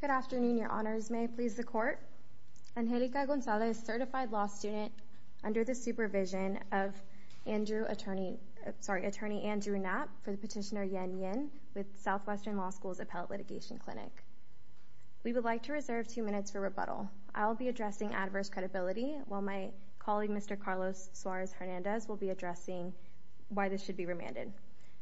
Good afternoon, your honors. May it please the court. Angelica Gonzalez, certified law student under the supervision of attorney Andrew Knapp for the petitioner Yen Yin with Southwestern Law School's Appellate Litigation Clinic. We would like to reserve two minutes for rebuttal. I will be addressing adverse credibility while my colleague Mr. Carlos Suarez Hernandez will be addressing why this should be remanded.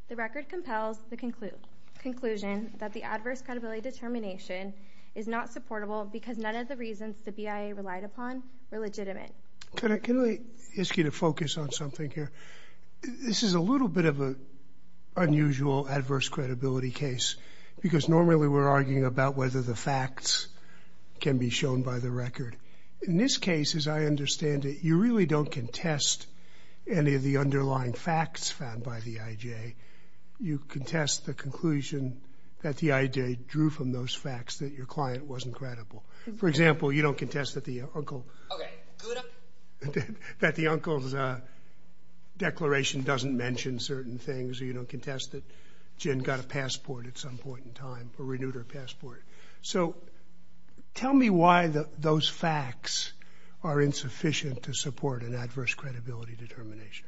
The record compels the conclusion that the adverse credibility determination is not supportable because none of the reasons the BIA relied upon were legitimate. Can I ask you to focus on something here? This is a little bit of an unusual adverse credibility case because normally we're arguing about whether the facts can be shown by the record. In this case, as I understand it, you don't contest any of the underlying facts found by the IJ. You contest the conclusion that the IJ drew from those facts that your client wasn't credible. For example, you don't contest that the uncle's declaration doesn't mention certain things. You don't contest that Jin got a passport at some point in time, a renewed passport. Tell me why those facts are insufficient to support an adverse credibility determination.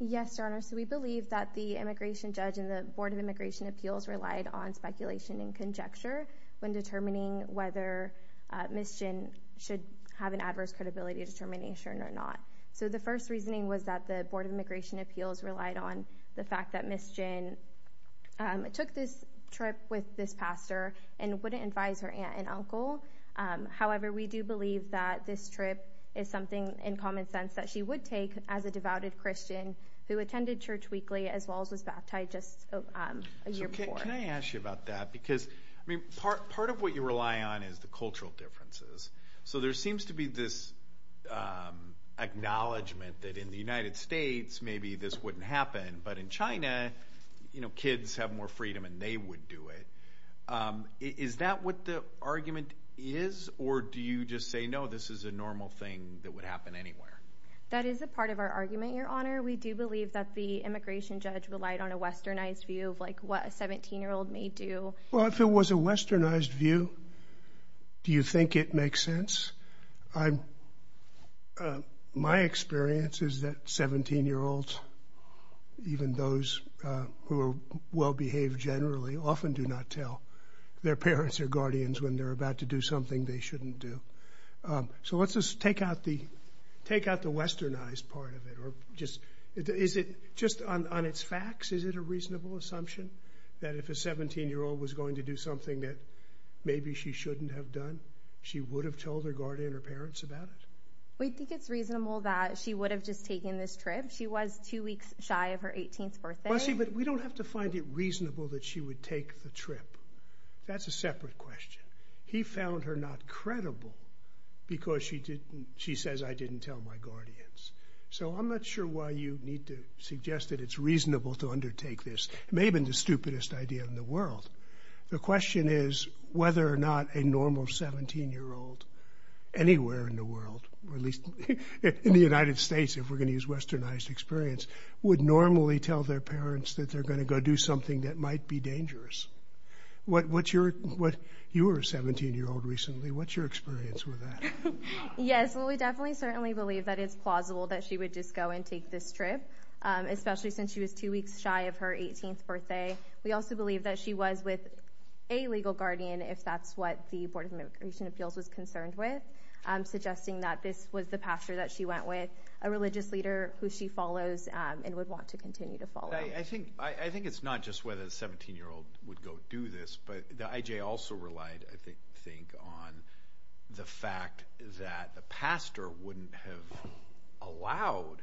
Yes, Your Honor. We believe that the immigration judge and the Board of Immigration Appeals relied on speculation and conjecture when determining whether Ms. Jin should have an adverse credibility determination or not. The first reasoning was that the Board of Immigration Appeals relied on the fact that Ms. Jin took this trip with this pastor and wouldn't advise her aunt and uncle. However, we do believe that this trip is something in common sense that she would take as a devouted Christian who attended church weekly as well as was baptized just a year before. Can I ask you about that? Part of what you rely on is the cultural differences. There seems to be this acknowledgement that in the United States, maybe this wouldn't happen, but in China, kids have more freedom and they would do it. Is that what the argument is, or do you just say, no, this is a normal thing that would happen anywhere? That is a part of our argument, Your Honor. We do believe that the immigration judge relied on a westernized view of what a 17-year-old may do. If it was a westernized view, do you think it makes sense? My experience is that 17-year-olds, even those who are well-behaved generally, often do not tell their parents or guardians when they're about to do something they shouldn't do. So let's just take out the westernized part of it. On its facts, is it a reasonable assumption that if a 17-year-old was going to do something that maybe she shouldn't have done, she would have told her guardian or parents about it? We think it's reasonable that she would have just taken this trip. She was two weeks shy of her 18th birthday. We don't have to find it reasonable that she would take the trip. That's a separate question. He found her not credible because she says, I didn't tell my guardians. So I'm not sure why you need to suggest that it's reasonable to undertake this. It may whether or not a normal 17-year-old anywhere in the world, or at least in the United States, if we're going to use westernized experience, would normally tell their parents that they're going to go do something that might be dangerous. You were a 17-year-old recently. What's your experience with that? Yes. Well, we definitely certainly believe that it's plausible that she would just go and take this trip, especially since she was two weeks shy of her 18th birthday. We also believe that she was with a legal guardian, if that's what the Board of Immigration Appeals was concerned with, suggesting that this was the pastor that she went with, a religious leader who she follows and would want to continue to follow. I think it's not just whether the 17-year-old would go do this, but the IJ also relied, I think, on the fact that the pastor wouldn't have allowed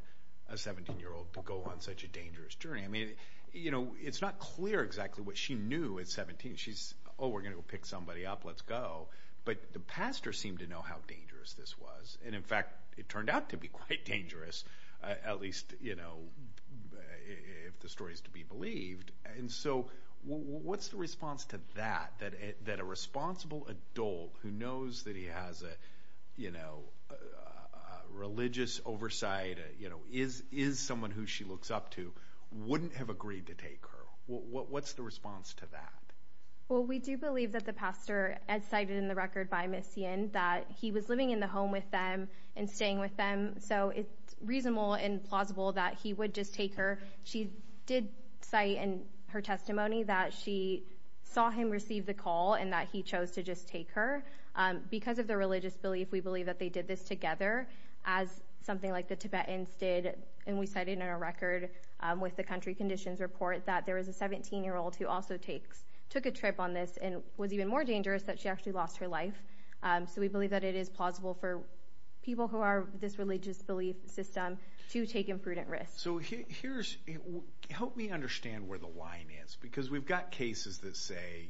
a 17-year-old to go on such a dangerous journey. You know, it's not clear exactly what she knew at 17. She's, oh, we're going to go pick somebody up, let's go. But the pastor seemed to know how dangerous this was. In fact, it turned out to be quite dangerous, at least if the story is to be believed. What's the response to that, that a responsible adult who knows that he has a religious oversight, is someone who she looks up to, wouldn't have agreed to take her? What's the response to that? Well, we do believe that the pastor, as cited in the record by Mission, that he was living in the home with them and staying with them, so it's reasonable and plausible that he would just take her. She did cite in her testimony that she saw him receive the call and that he chose to just take her. Because of their religious belief, we believe that they did this together, as something like the Tibetans did, and we cited in our record with the country conditions report, that there was a 17-year-old who also took a trip on this and was even more dangerous, that she actually lost her life. So we believe that it is plausible for people who are this religious belief system to take imprudent risks. So here's, help me understand where the line is, because we've got cases that say,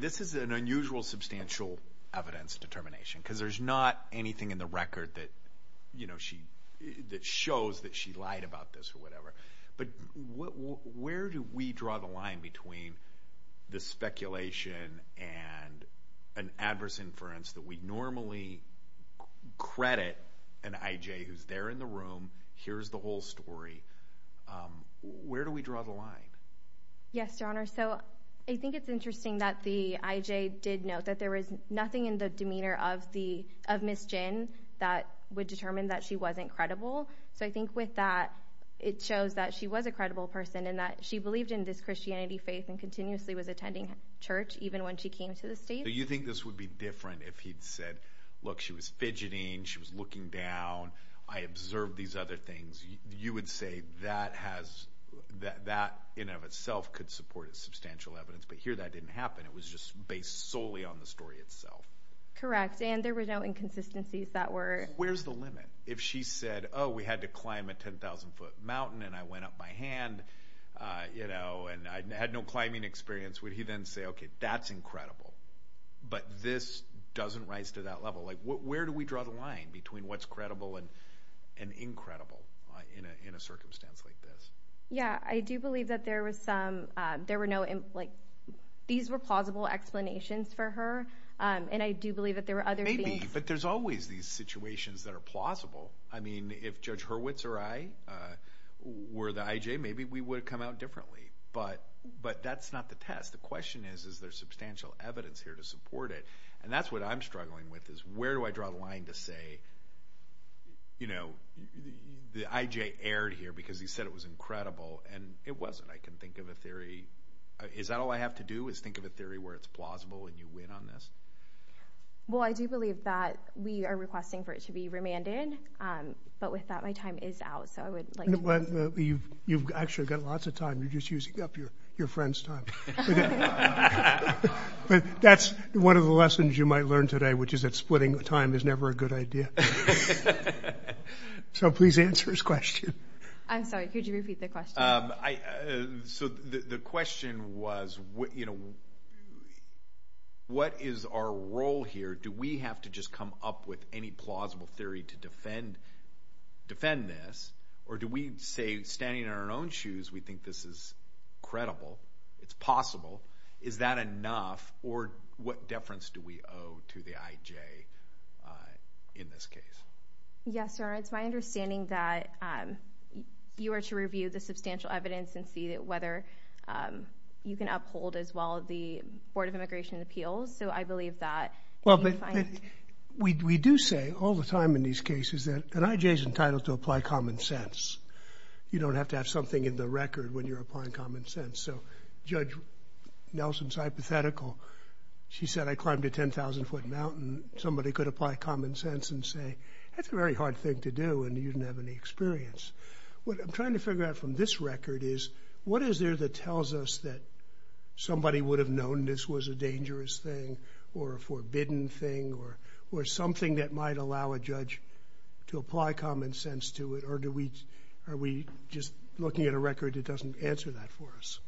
this is an unusual substantial evidence determination, because there's not anything in the record that shows that she lied about this or whatever. But where do we draw the line between the speculation and an adverse inference that we normally credit an IJ who's there in the room, here's the whole story, where do we draw the line? Yes, your honor. So I think it's interesting that the IJ did note that there was nothing in the demeanor of Ms. Jin that would determine that she wasn't credible. So I think with that, it shows that she was a credible person and that she believed in this Christianity faith and continuously was attending church even when she came to the state. Do you think this would be different if he'd said, look, she was fidgeting, she was looking down, I observed these other things. You would say that in and of itself could support a substantial evidence, but here that didn't happen. It was just based solely on the story itself. Correct. And there were no inconsistencies that were- Where's the limit? If she said, oh, we had to climb a 10,000 foot mountain and I went up by hand and I had no climbing experience, would he then say, okay, that's incredible. But this doesn't rise to that level. Where do we draw the line between what's credible and incredible in a circumstance like this? Yeah. I do believe that there was some, these were plausible explanations for her. And I do believe that there were other things- Maybe, but there's always these situations that are plausible. I mean, if Judge Hurwitz or I were the IJ, maybe we would have come out differently, but that's not the test. The question is, is there substantial evidence here to support it? And that's what I'm struggling with, is where do I draw the line to say, the IJ erred here because he said it was incredible and it wasn't. I can think of a theory. Is that all I have to do is think of a theory where it's plausible and you win on this? Well, I do believe that we are requesting for it to be remanded, but with that, my time is out. So I would like- You've actually got lots of time. You're just one of the lessons you might learn today, which is that splitting time is never a good idea. So please answer his question. I'm sorry, could you repeat the question? So the question was, what is our role here? Do we have to just come up with any plausible theory to defend this? Or do we say, standing in our own shoes, we think this is different? What deference do we owe to the IJ in this case? Yes, sir. It's my understanding that you are to review the substantial evidence and see whether you can uphold as well the Board of Immigration Appeals. So I believe that- Well, but we do say all the time in these cases that an IJ is entitled to apply common sense. You don't have to have something in the record when applying common sense. So Judge Nelson's hypothetical, she said, I climbed a 10,000-foot mountain. Somebody could apply common sense and say, that's a very hard thing to do and you didn't have any experience. What I'm trying to figure out from this record is, what is there that tells us that somebody would have known this was a dangerous thing or a forbidden thing or something that might allow a judge to apply common sense to it? Or are we just looking at a record that doesn't answer that for us?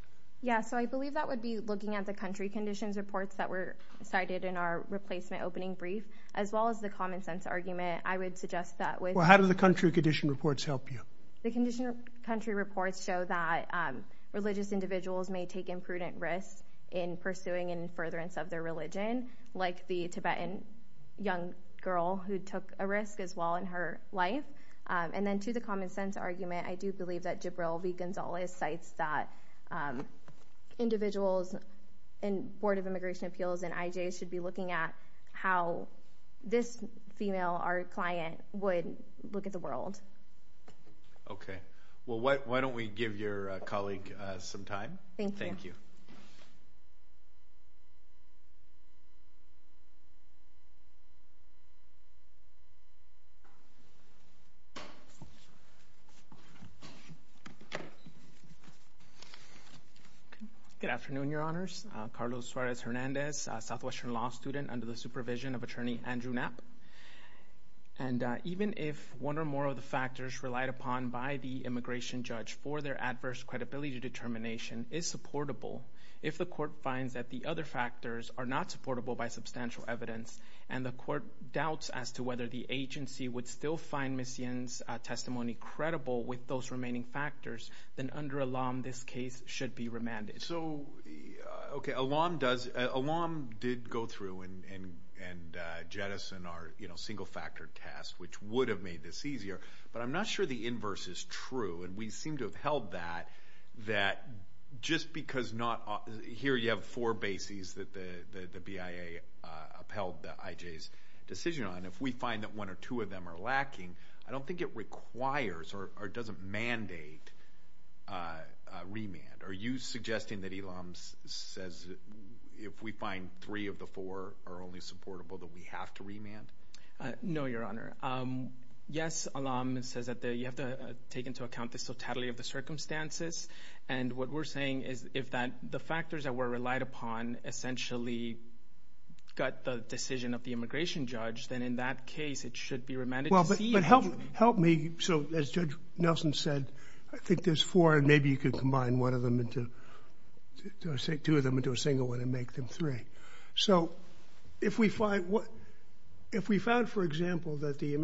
Yeah. So I believe that would be looking at the country conditions reports that were cited in our replacement opening brief, as well as the common sense argument. I would suggest that with- Well, how do the country condition reports help you? The country reports show that religious individuals may take imprudent risks in pursuing and in furtherance of their a risk as well in her life. And then to the common sense argument, I do believe that Gibral V. Gonzalez cites that individuals in Board of Immigration Appeals and IJs should be looking at how this female, our client, would look at the world. Okay. Well, why don't we give your next speaker a moment? Good afternoon, Your Honors. Carlos Suarez-Hernandez, a Southwestern Law student under the supervision of Attorney Andrew Knapp. And even if one or more of the factors relied upon by the immigration judge for their adverse credibility determination is unsupportable, if the court finds that the other factors are not supportable by substantial evidence and the court doubts as to whether the agency would still find Ms. Yin's testimony credible with those remaining factors, then under Elam, this case should be remanded. So, okay. Elam did go through and jettison our single factor test, which would have made this because here you have four bases that the BIA upheld the IJ's decision on. If we find that one or two of them are lacking, I don't think it requires or doesn't mandate a remand. Are you suggesting that Elam says if we find three of the four are only supportable that we have to remand? No, Your Honor. Yes, Elam says that you have to take into account the subtlety of the circumstances. And what we're saying is if the factors that were relied upon essentially got the decision of the immigration judge, then in that case, it should be remanded. Well, but help me. So, as Judge Nelson said, I think there's four and maybe you could combine one of them into two of them into a single one and make them three. So, if we find, for example, that the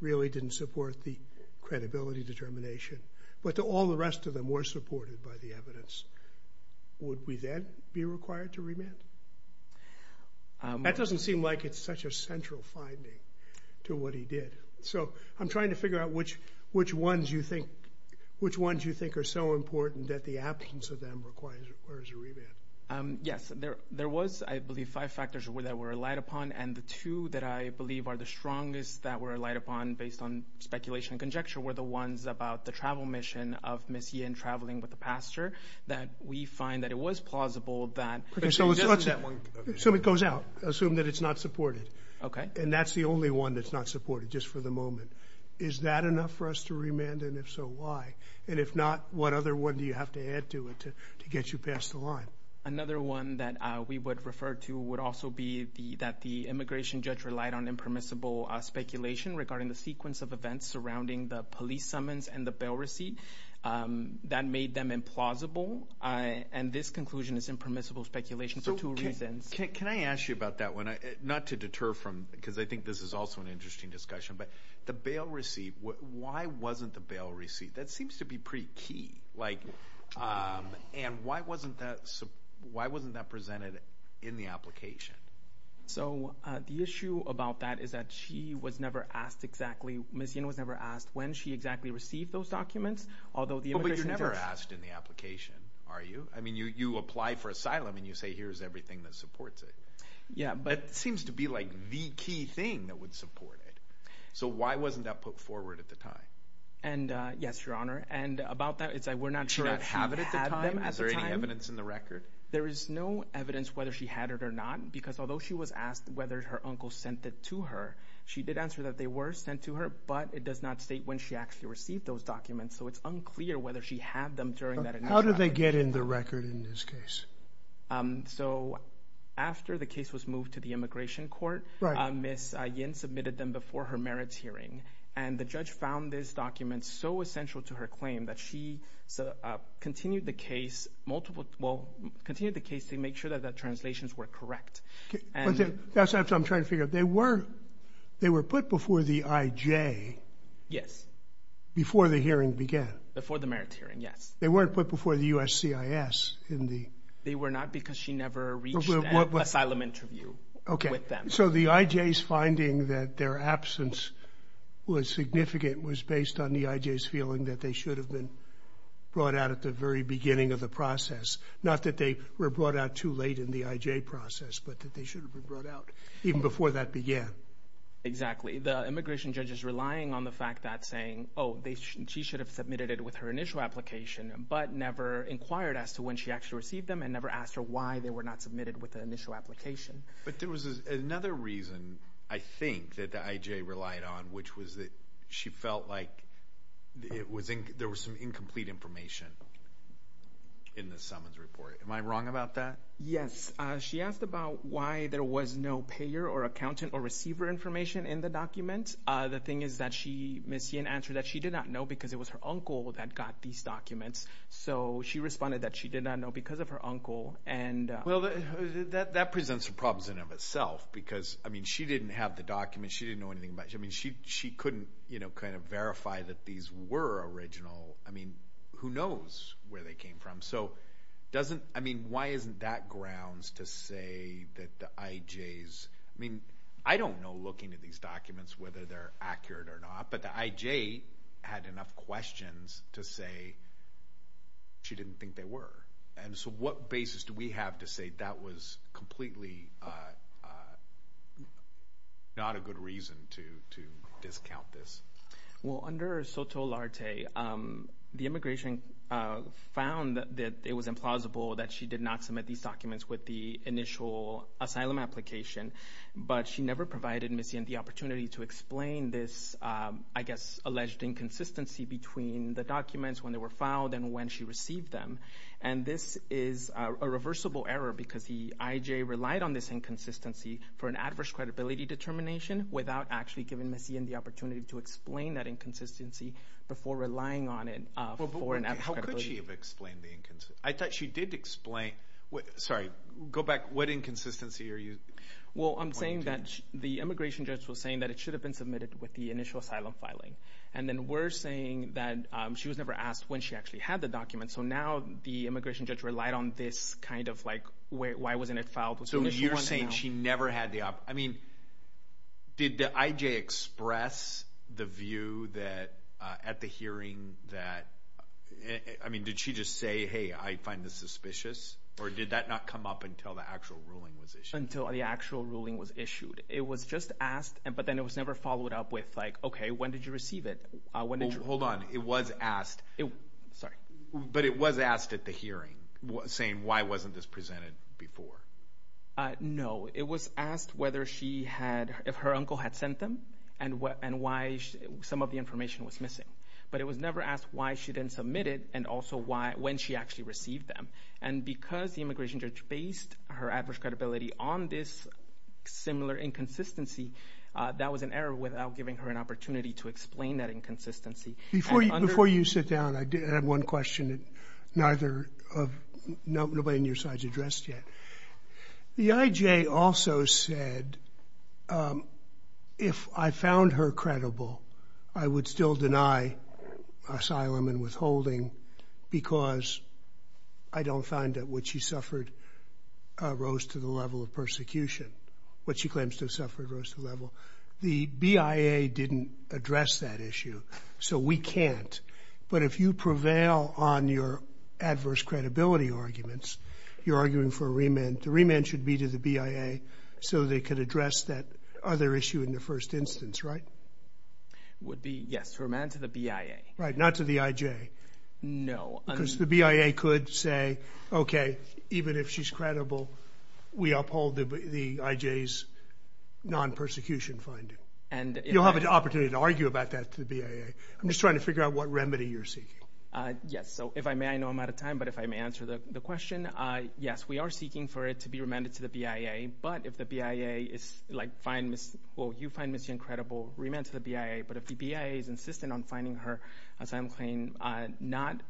really didn't support the credibility determination, but all the rest of them were supported by the evidence, would we then be required to remand? That doesn't seem like it's such a central finding to what he did. So, I'm trying to figure out which ones you think are so important that the absence of them requires a remand. Yes, there was, I believe, five factors that were relied upon and the two that I believe are the strongest that were relied based on speculation and conjecture were the ones about the travel mission of Ms. Yin traveling with the pastor that we find that it was plausible that... So, it goes out. Assume that it's not supported. Okay. And that's the only one that's not supported just for the moment. Is that enough for us to remand? And if so, why? And if not, what other one do you have to add to it to get you past the line? Another one that we would refer to would also be that the immigration judge relied on impermissible speculation regarding the sequence of events surrounding the police summons and the bail receipt that made them implausible. And this conclusion is impermissible speculation for two reasons. Can I ask you about that one? Not to deter from, because I think this is also an interesting discussion, but the bail receipt, why wasn't the bail receipt? That seems to be pretty key. And why wasn't that presented in the application? So, the issue about that is that she was never asked exactly... Ms. Yin was never asked when she exactly received those documents, although the immigration judge... But you're never asked in the application, are you? I mean, you apply for asylum and you say, here's everything that supports it. Yeah, but... It seems to be like the key thing that would support it. So, why wasn't that put forward at the time? And yes, Your Honor. And about that, it's like we're not sure if she had them at the time. Did she have it at the time? Is there any evidence in the record? There is no whether her uncle sent it to her. She did answer that they were sent to her, but it does not state when she actually received those documents. So, it's unclear whether she had them during that initial... How did they get in the record in this case? So, after the case was moved to the immigration court, Ms. Yin submitted them before her merits hearing. And the judge found this document so essential to her claim that she continued the case multiple... Well, continued the case to make sure that the translations were correct. That's what I'm trying to figure out. They were put before the IJ? Yes. Before the hearing began? Before the merits hearing, yes. They weren't put before the USCIS in the... They were not because she never reached an asylum interview with them. Okay. So, the IJ's finding that their absence was significant was based on the IJ's feeling that they should have been brought out at the very beginning of the hearing. Not that they should have been brought out too late in the IJ process, but that they should have been brought out even before that began. Exactly. The immigration judge is relying on the fact that saying, oh, she should have submitted it with her initial application, but never inquired as to when she actually received them and never asked her why they were not submitted with the initial application. But there was another reason, I think, that the IJ relied on, which was that she felt like there was some incomplete information in the summons report. Am I wrong about that? Yes. She asked about why there was no payer or accountant or receiver information in the document. The thing is that she missed an answer that she did not know because it was her uncle that got these documents. So, she responded that she did not know because of her uncle and... Well, that presents a problem in and of itself because, I mean, she didn't have the document. She didn't know anything about... She couldn't verify that these were original. Who knows where they came from? Why isn't that grounds to say that the IJs... I mean, I don't know looking at these documents whether they're accurate or not, but the IJ had enough questions to say she didn't think they were. So, what basis do we have to say that was completely not a good reason to discount this? Well, under SOTOLARTE, the immigration found that it was implausible that she did not submit these documents with the initial asylum application, but she never provided Ms. Yen the opportunity to explain this, I guess, alleged inconsistency between the documents when they were filed and when she received them. And this is a reversible error because the IJ relied on this inconsistency for an adverse credibility determination without actually giving Ms. Yen the opportunity to explain that inconsistency before relying on it for an... How could she have explained the inconsistency? I thought she did explain... Sorry, go back. What inconsistency are you pointing to? Well, I'm saying that the immigration judge was saying that it should have been submitted with the initial asylum filing. And then we're saying that she was never asked when she actually had the document. So, now the immigration judge relied on this kind of like, why wasn't it filed? So, you're saying she never had the... I mean, did the IJ express the view that at the hearing that... I mean, did she just say, hey, I find this suspicious? Or did that not come up until the actual ruling was issued? Until the actual ruling was issued. It was just asked, but then it was never followed up with, like, okay, when did you receive it? When did you... Hold on. It was asked. Sorry. But it was asked at the hearing, saying why wasn't this presented before? No. It was asked whether she had... If her uncle had sent them and why some of the information was missing. But it was never asked why she didn't submit it and also when she actually received them. And because the immigration judge based her adverse credibility on this similar inconsistency, that was an error without giving her an opportunity to explain that inconsistency. Before you sit down, I have one question that neither of... Nobody on your side has addressed yet. The IJ also said, if I found her credible, I would still deny asylum and withholding because I don't find that what she suffered rose to the level of persecution. What she claims to have suffered rose to the level. The BIA didn't address that issue, so we can't. But if you prevail on your adverse credibility arguments, you're arguing for a remand. The remand should be to the BIA so they could address that other issue in the first instance, right? Would be, yes. Remand to the BIA. Right. Not to the IJ. No. Because the BIA could say, okay, even if she's credible, we uphold the IJ's non-persecution finding. You'll have an opportunity to argue about that to the BIA. I'm just trying to figure out what remedy you're seeking. Yes. So if I may, I know I'm out of time, but if I may answer the question, yes, we are seeking for it to be remanded to the BIA. But if the BIA is like, well, you find Ms. Yang credible, remand to the BIA. But if the BIA is insistent on finding her, as I'm claiming, not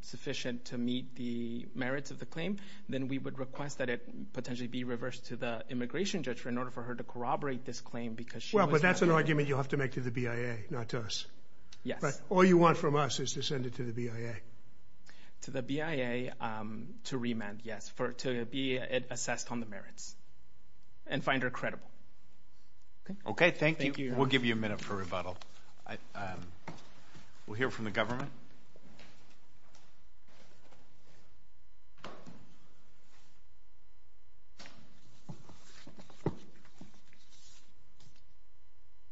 sufficient to meet the merits of the claim, then we would request that it potentially be reversed to the immigration judge in order for her to corroborate this claim because she was- Well, but that's an argument you'll have to make to the BIA, not to us. Yes. All you want from us is to send it to the BIA. To the BIA to remand, yes. To be assessed on the merits and find her credible. Okay. Thank you. We'll give you a minute for rebuttal. We'll hear from the government.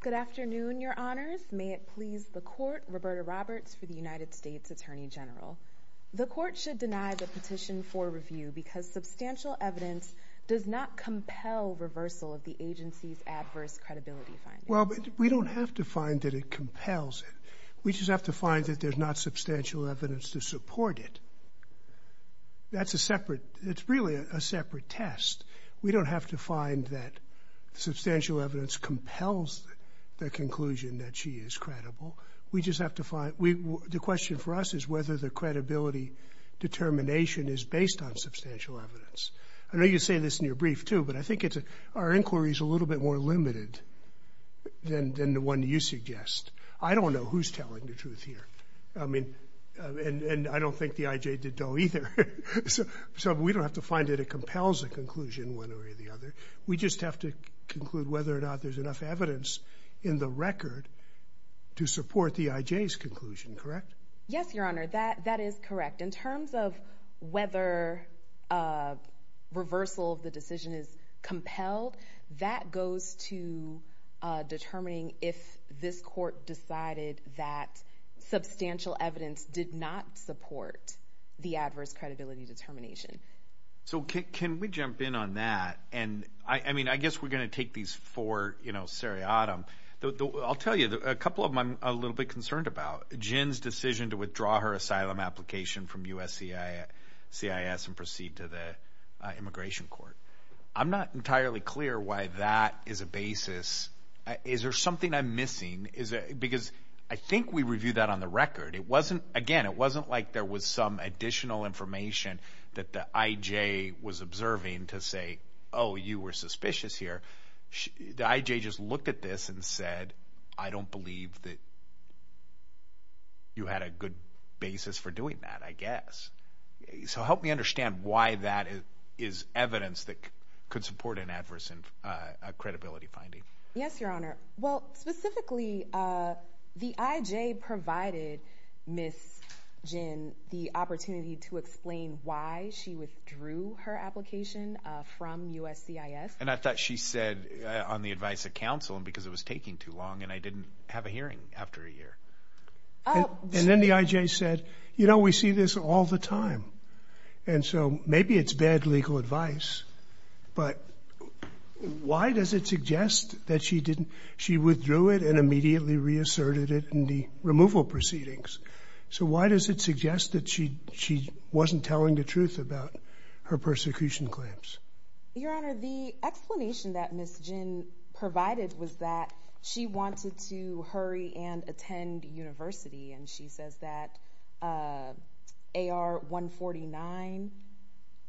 Good afternoon, your honors. May it please the court, Roberta Roberts for the United States Attorney General. The court should deny the petition for review because substantial evidence does not compel reversal of the agency's adverse credibility findings. We don't have to find that it compels it. We just have to find that there's not substantial evidence to support it. It's really a separate test. We don't have to find that substantial evidence compels the conclusion that she is credible. The question for us is whether the credibility determination is based on substantial evidence. I know you say this in your brief, too, but I think our inquiry is a little bit more limited than the one you suggest. I don't know who's telling the truth here. I don't think the IJ did, though, either. We don't have to find that it compels a conclusion one way or the other. We just have to conclude whether or not there's enough evidence in the record to support the IJ's conclusion. Correct? Yes, Your Honor. That is correct. In terms of whether reversal of the decision is compelled, that goes to determining if this court decided that substantial evidence did not support the adverse credibility determination. So can we jump in on that? And I mean, I guess we're going to take these four seriatim. I'll tell you, a couple of them I'm a little bit concerned about. Jin's decision to withdraw her asylum application from USCIS and proceed to the immigration court. I'm not entirely clear why that is a basis. Is there something I'm missing? Because I think we reviewed that on the record. It wasn't, again, it wasn't like there was some additional information that the IJ was observing to say, oh, you were suspicious here. The IJ just looked at this and said, I don't believe that you had a good basis for doing that, I guess. So help me understand why that is evidence that could support an adverse credibility finding. Yes, Your Honor. Well, specifically, the IJ provided Ms. Jin the opportunity to explain why she withdrew her application from USCIS. And I thought she said, on the advice of counsel, because it was taking too long and I didn't have a hearing after a year. And then the IJ said, you know, we see this all the time. And so maybe it's bad legal advice, but why does it suggest that she didn't, she withdrew it and immediately reasserted it in the removal proceedings? So why does it suggest that she wasn't telling the truth about her persecution claims? Your Honor, the explanation that Ms. Jin provided was that she wanted to hurry and attend university. And she says that AR 149,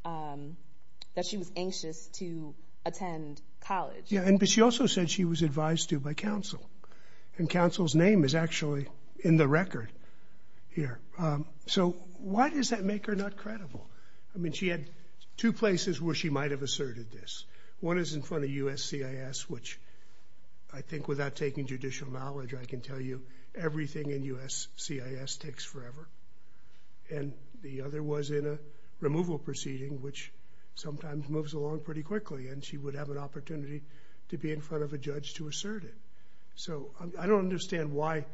that she was anxious to attend college. Yeah, but she also said she was advised to by counsel. And counsel's name is actually in the record here. So why does that make her not credible? I mean, she had two places where she might have asserted this. One is in front of USCIS, which I think without taking judicial knowledge, I can tell you everything in USCIS takes forever. And the other was in a removal proceeding, which sometimes moves along pretty quickly, and she would have an opportunity to be in front of a judge to assert it. So I don't understand why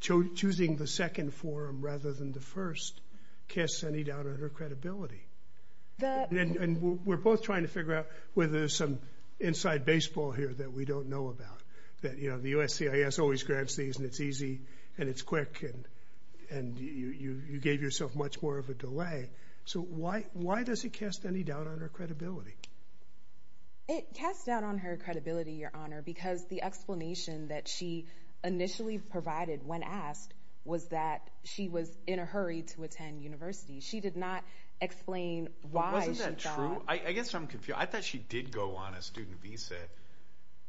choosing the second forum rather than the first casts any doubt on her credibility. And we're both trying to figure out whether there's some inside baseball here that we don't know about. That, you know, the USCIS always grants these and it's easy and it's quick and you gave yourself much more of a delay. So why does it cast any doubt on her credibility? It casts doubt on her credibility, your honor, because the explanation that she initially provided when asked was that she was in a hurry to attend university. She did not explain why. Wasn't that true? I guess I'm confused. I thought she did go on a student visa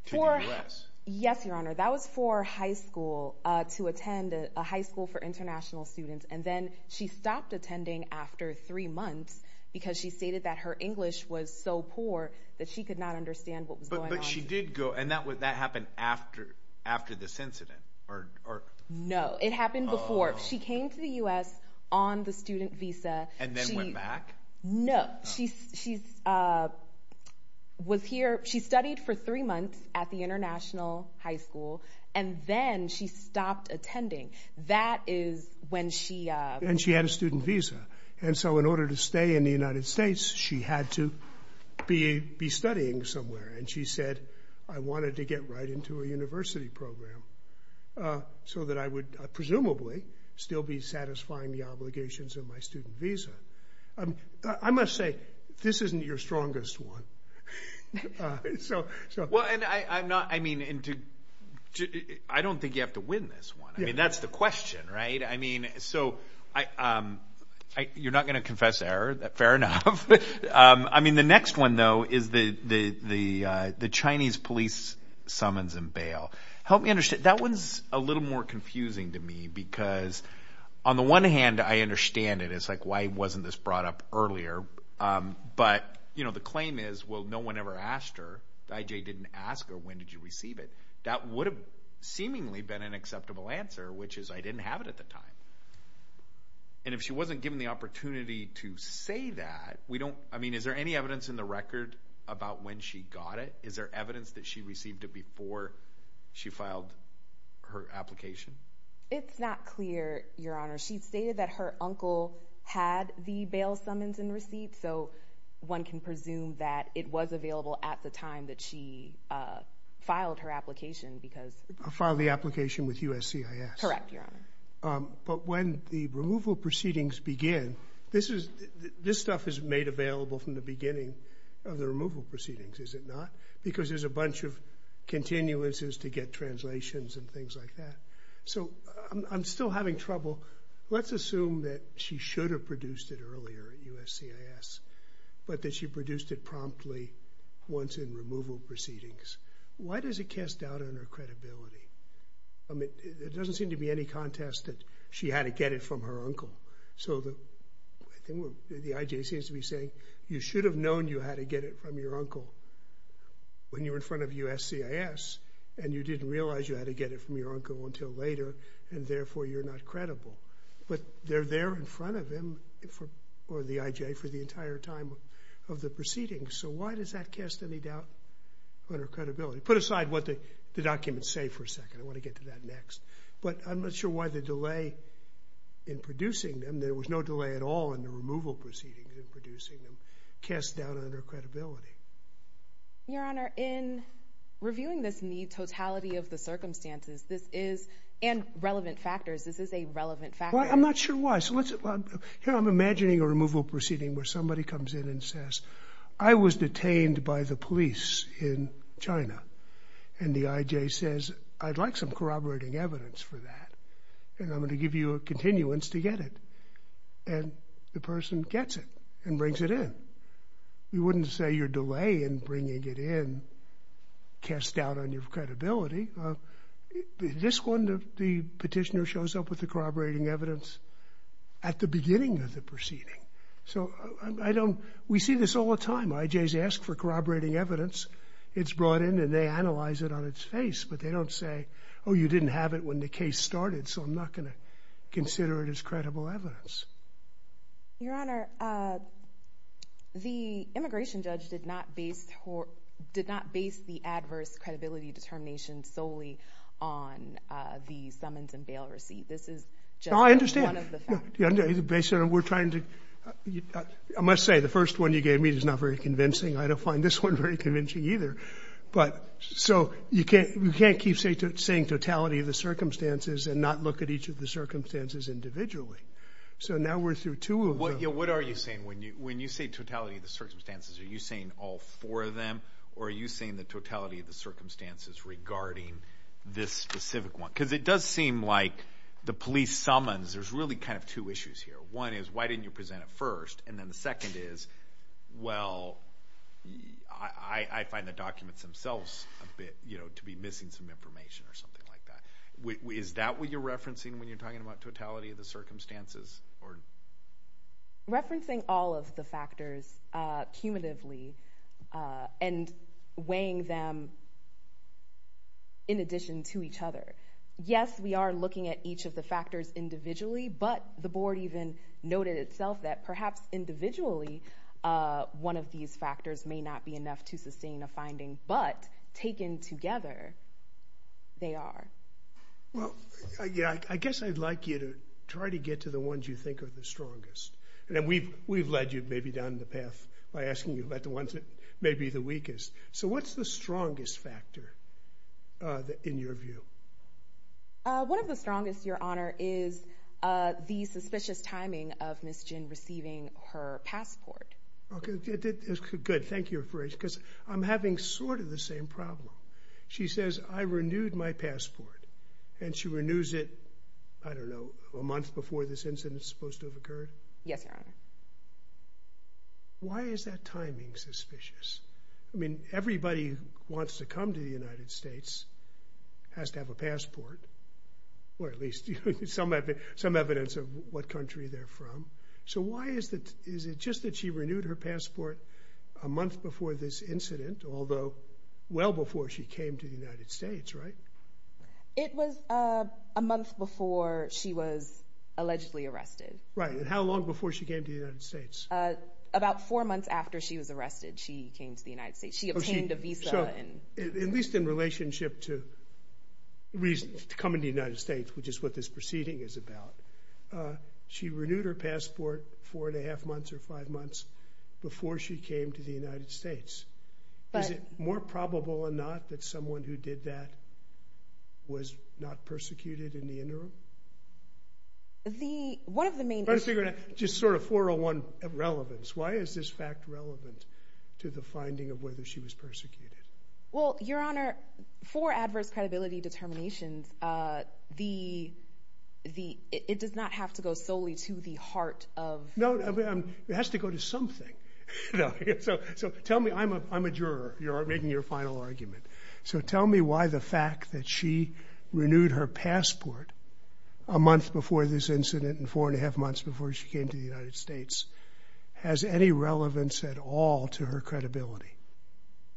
to the US. Yes, your honor. That was for high school to attend a high school for international students. And then she stopped attending after three months because she stated that her English was so poor that she could not understand what was going on. But she did go and that happened after this incident. No, it happened before. She came to the US on the student visa. And then went back? No. She studied for three months at the international high school and then she stopped attending. That is when she... And she had a student visa. And so in order to stay in the US, she had to be studying somewhere. And she said, I wanted to get right into a university program so that I would presumably still be satisfying the obligations of my student visa. I must say, this isn't your strongest one. Well, I don't think you have to win this one. I mean, that's the question, right? I mean, so you're not going to confess error. Fair enough. I mean, the next one though is the Chinese police summons and bail. Help me understand. That one's a little more confusing to me because on the one hand, I understand it. It's like, why wasn't this brought up earlier? But the claim is, well, no one ever asked her. The IJ didn't ask her, when did you receive it? That would have seemingly been an acceptable answer, which is I didn't have it at the time. And if she wasn't given the opportunity to say that, we don't... I mean, is there any evidence in the record about when she got it? Is there evidence that she received it before she filed her application? It's not clear, Your Honor. She stated that her uncle had the bail summons and receipts. So one can presume that it was available at the time that she filed her application because... Filed the application with USCIS. Correct, Your Honor. But when the removal proceedings begin, this stuff is made available from the beginning of the removal proceedings, is it not? Because there's a bunch of continuances to get translations and things like that. So I'm still having trouble. Let's assume that she should have produced it earlier at USCIS, but that she produced it promptly once in removal proceedings. Why does it cast doubt on her credibility? I mean, there doesn't seem to be any contest that she had to get it from her uncle. So I think what the IJ seems to be saying, you should have known you had to get it from your uncle when you were in front of USCIS, and you didn't realize you had to get it from your uncle until later, and therefore you're not credible. But they're there in front of him, or the IJ, for the entire time of the proceedings. So why does that cast any doubt on her credibility? Put aside what the documents say for a second. I want to get to that next. But I'm not sure why the delay in producing them, there was no delay at all in the removal proceedings in producing them, cast doubt on her credibility. Your Honor, in reviewing this in the totality of the circumstances, this is, and relevant factors, this is a relevant factor. I'm not sure why. Here I'm imagining a removal proceeding where somebody comes in and says, I was detained by the police in China. And the IJ says, I'd like some corroborating evidence for that. And I'm going to give you a continuance to get it. And the person gets it and brings it in. You wouldn't say your delay in bringing it in cast doubt on your credibility. This one, the petitioner shows up with the corroborating evidence at the beginning of the proceeding. So I don't, we see this all the time. IJs ask for corroborating evidence. It's brought in and they analyze it on its face, but they don't say, oh, you didn't have it when the case started. So I'm not going to consider it as credible evidence. Your Honor, the immigration judge did not base the adverse credibility determination solely on the summons and bail receipt. This is just one of the factors. I understand. I must say the first one you gave me is not very convincing. I don't find this one very convincing either. But so you can't keep saying totality of the circumstances and not look at each of the circumstances individually. So now we're through two of them. What are you saying? When you say totality of the circumstances, are you saying all four of them? Or are you saying the totality of the circumstances regarding this specific one? Because it does seem like the police summons, there's really kind of two issues here. One is, why didn't you present it first? And then the second is, well, I find the documents themselves a bit, you know, to be missing some information or something like that. Is that what you're referencing when you're talking about totality of the circumstances? Referencing all of the factors cumulatively and weighing them in addition to each other. Yes, we are looking at each of the factors individually, but the board even noted itself that perhaps individually one of these factors may not be enough to sustain a finding, but taken together, they are. Well, yeah, I guess I'd like you to try to get to the ones you think are the strongest. And then we've led you maybe down the path by asking you about the ones that may be the weakest. So what's the strongest factor in your view? One of the strongest, Your Honor, is the suspicious timing of Ms. Jin receiving her passport. Okay, good. Thank you for it. Because I'm having sort of the same problem. She says, I renewed my passport. And she renews it, I don't know, a month before this incident is supposed to have occurred? Yes, Your Honor. Why is that timing suspicious? I mean, everybody who wants to come to the United States has to have a passport, or at least some evidence of what country they're from. So why is it just that she renewed her passport a month before this incident, although well before she came to the United States, right? It was a month before she was allegedly arrested. Right. And how long before she came to the United States? About four months after she was arrested, she came to the United States. She obtained a visa. So at least in relationship to coming to the United States, which is what this proceeding is about, she renewed her passport four and a half months or five months before she came to the United States. But is it more probable or not that someone who did that was not persecuted in the interim? The one of the main... Just sort of 401 relevance. Why is this fact relevant to the finding of whether she was persecuted? Well, Your Honor, for adverse credibility determinations, it does not have to go solely to the heart of... No, it has to go to something. So tell me... I'm a juror. You're making your final argument. So tell me why the fact that she renewed her passport a month before this incident and four and a half months before she came to the United States has any relevance at all to her credibility.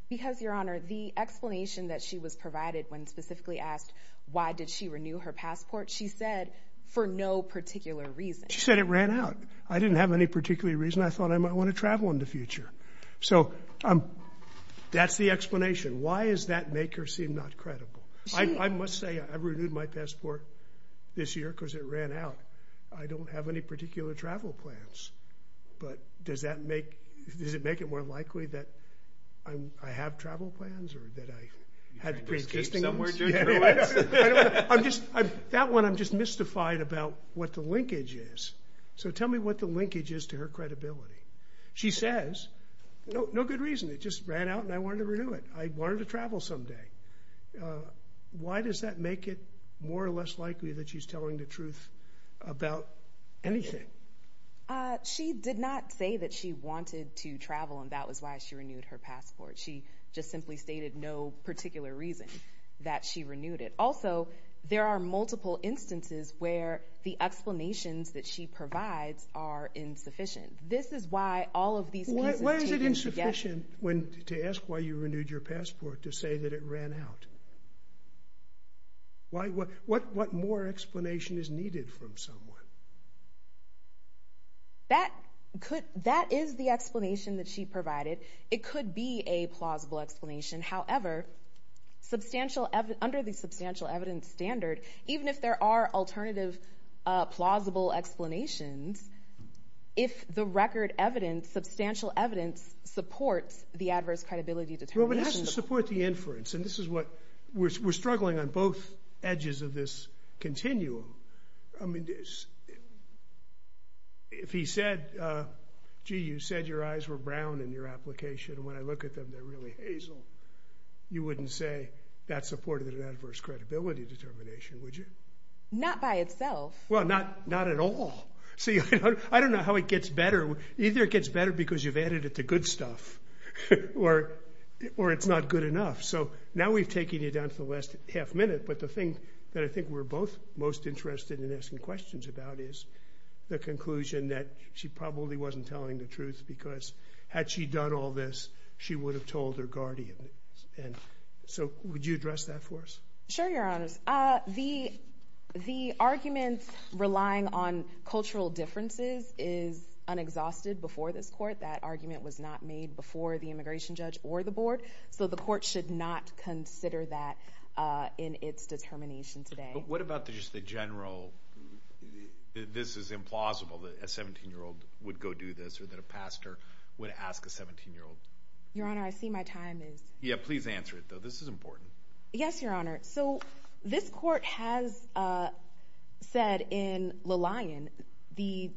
Because, Your Honor, the explanation that she was provided when specifically asked why did she renew her passport, she said for no particular reason. She said it ran out. I didn't have any particular reason. I thought I might want to travel in the future. So that's the explanation. Why does that make her seem not credible? I must say I renewed my passport this year because it ran out. I don't have any particular travel plans. But does that make... Does it make it more likely that I have travel plans or that I had... I'm just... That one, I'm just mystified about what the linkage is. So tell me what the linkage is to her credibility. She says, no good reason. It just ran out and I wanted to renew it. I wanted to travel someday. Why does that make it more or less likely that she's telling the truth about anything? She did not say that she wanted to travel and that was why she renewed her passport. She did not say that she renewed it. Also, there are multiple instances where the explanations that she provides are insufficient. This is why all of these cases... Why is it insufficient to ask why you renewed your passport to say that it ran out? Why? What more explanation is needed from someone? That could... That is the explanation that she provided. It could be a plausible explanation. However, under the substantial evidence standard, even if there are alternative plausible explanations, if the record evidence, substantial evidence, supports the adverse credibility determination... Well, but it has to support the inference. And this is what... We're struggling on both edges of this continuum. I mean, if he said, gee, you said your eyes were brown in your you wouldn't say that supported an adverse credibility determination, would you? Not by itself. Well, not at all. I don't know how it gets better. Either it gets better because you've added it to good stuff or it's not good enough. So now we've taken it down to the last half minute. But the thing that I think we're both most interested in asking questions about is the conclusion that she probably wasn't telling the truth because had she done all this, she would have told her guardian. And so would you address that for us? Sure, Your Honor. The argument relying on cultural differences is unexhausted before this court. That argument was not made before the immigration judge or the board. So the court should not consider that in its determination today. But what about just the general... This is implausible that a 17-year-old would go do this or that a pastor would ask a 17-year-old. Your Honor, I see my time is... Yeah, please answer it, though. This is important. Yes, Your Honor. So this court has said in Lillian the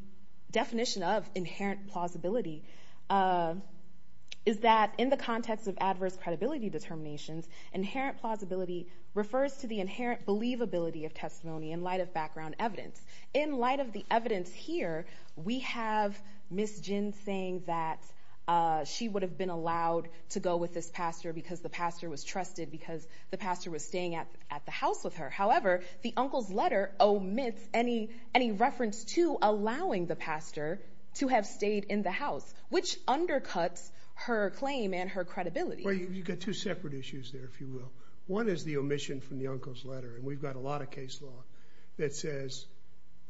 definition of inherent plausibility is that in the context of adverse credibility determinations, inherent plausibility refers to the inherent believability of testimony in background evidence. In light of the evidence here, we have Ms. Jin saying that she would have been allowed to go with this pastor because the pastor was trusted, because the pastor was staying at the house with her. However, the uncle's letter omits any reference to allowing the pastor to have stayed in the house, which undercuts her claim and her credibility. Well, you've got two separate issues there, if you will. One is the omission from the uncle's letter. And we've got a lot of case law that says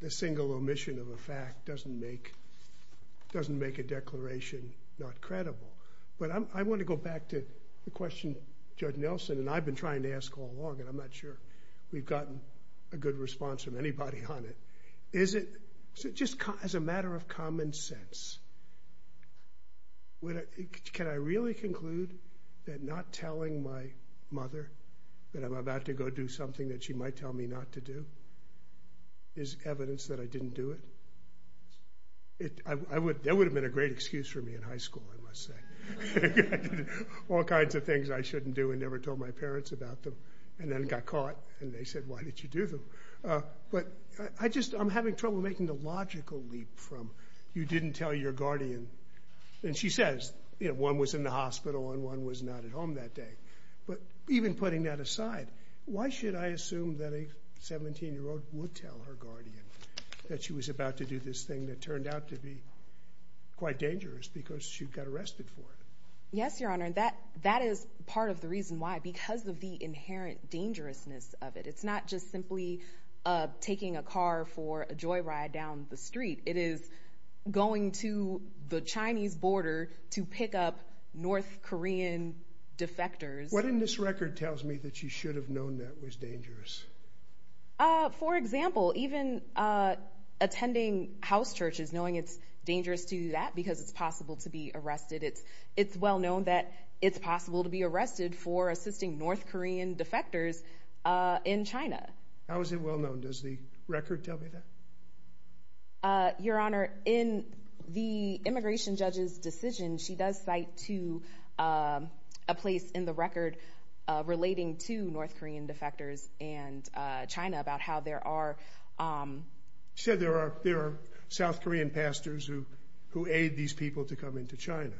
the single omission of a fact doesn't make a declaration not credible. But I want to go back to the question Judge Nelson and I've been trying to ask all along, and I'm not sure we've gotten a good response from anybody on it. Is it just as a matter of common sense, can I really conclude that not telling my mother that I'm about to go do something that she might tell me not to do is evidence that I didn't do it? That would have been a great excuse for me in high school, I must say. All kinds of things I shouldn't do and never told my parents about them, and then got caught and they said, why did you do them? But I just, I'm having trouble making the logical leap from you didn't tell your guardian, and she says, you know, one was in the that a 17 year old would tell her guardian that she was about to do this thing that turned out to be quite dangerous because she got arrested for it. Yes, Your Honor, that is part of the reason why, because of the inherent dangerousness of it. It's not just simply taking a car for a joy ride down the street. It is going to the Chinese border to pick up North Korean defectors. What in this For example, even attending house churches, knowing it's dangerous to do that because it's possible to be arrested. It's well known that it's possible to be arrested for assisting North Korean defectors in China. How is it well known? Does the record tell me that? Your Honor, in the immigration judge's decision, she does cite to a place in the record relating to North Korean defectors and China about how there are said there are there are South Korean pastors who who aid these people to come into China.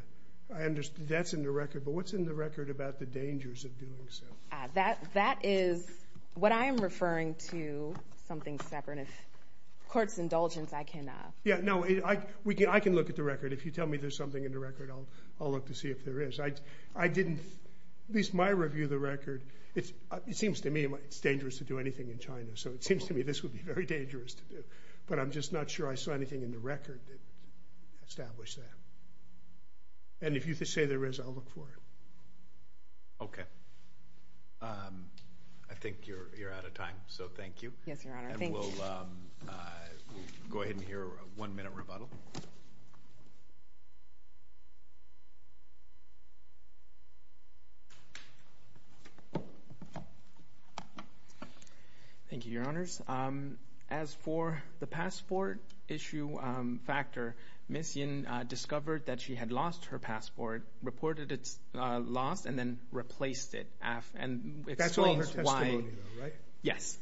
I understand that's in the record, but what's in the record about the dangers of doing so? That that is what I am referring to something separate. If court's indulgence, I can. Yeah, no, we can. I can look at the record. If you tell me there's something in the record, I'll I'll look to see if there is. I didn't at least my review the record. It seems to me it's dangerous to do anything in China, so it seems to me this would be very dangerous to do, but I'm just not sure I saw anything in the record that established that. And if you could say there is, I'll look for it. Okay. I think you're out of time, so thank you. Yes, Your Honor. We'll go ahead and hear a one-minute rebuttal. Thank you, Your Honors. As for the passport issue factor, Ms. Yin discovered that she had lost her passport, reported it lost, and then replaced it. That's all her testimony, though, right? Yes.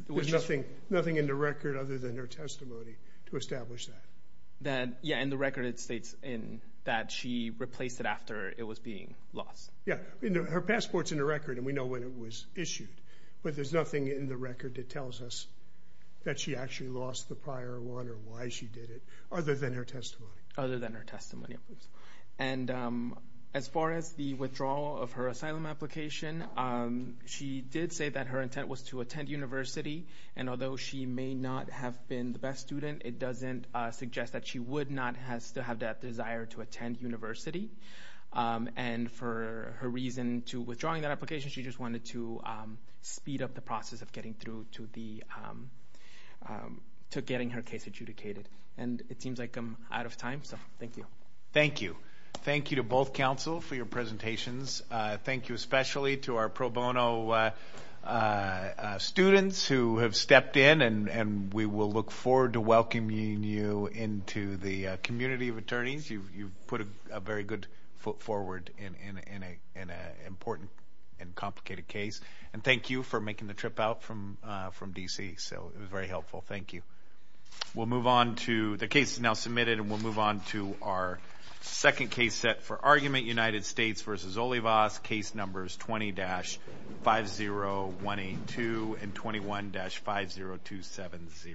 Nothing in the record other than her testimony to establish that. That, yeah, in the record it states in that she replaced it after it was being lost. Yeah, her passport's in the record, and we know when it was issued, but there's nothing in the record that tells us that she actually lost the prior one or why she did it other than her testimony. Other than her testimony. And as far as the withdrawal of her asylum application, she did say that her intent was to attend university, and although she may not have been the best student, it doesn't suggest that she would not still have that desire to attend university. And for her reason to withdrawing that application, she just wanted to speed up the process of getting her case adjudicated. And it seems like I'm out of time, so thank you. Thank you. Thank you to both counsel for your presentations. Thank you especially to our pro bono students who have stepped in, and we will look forward to welcoming you into the community of attorneys. You've put a very good foot forward in an important and complicated case. And thank you for making the trip out from D.C., so it was very helpful. Thank you. We'll move on to, the case is now submitted, and we'll move on to our second case set for argument, United States v. Olivas, case numbers 20-50182 and 21-50270.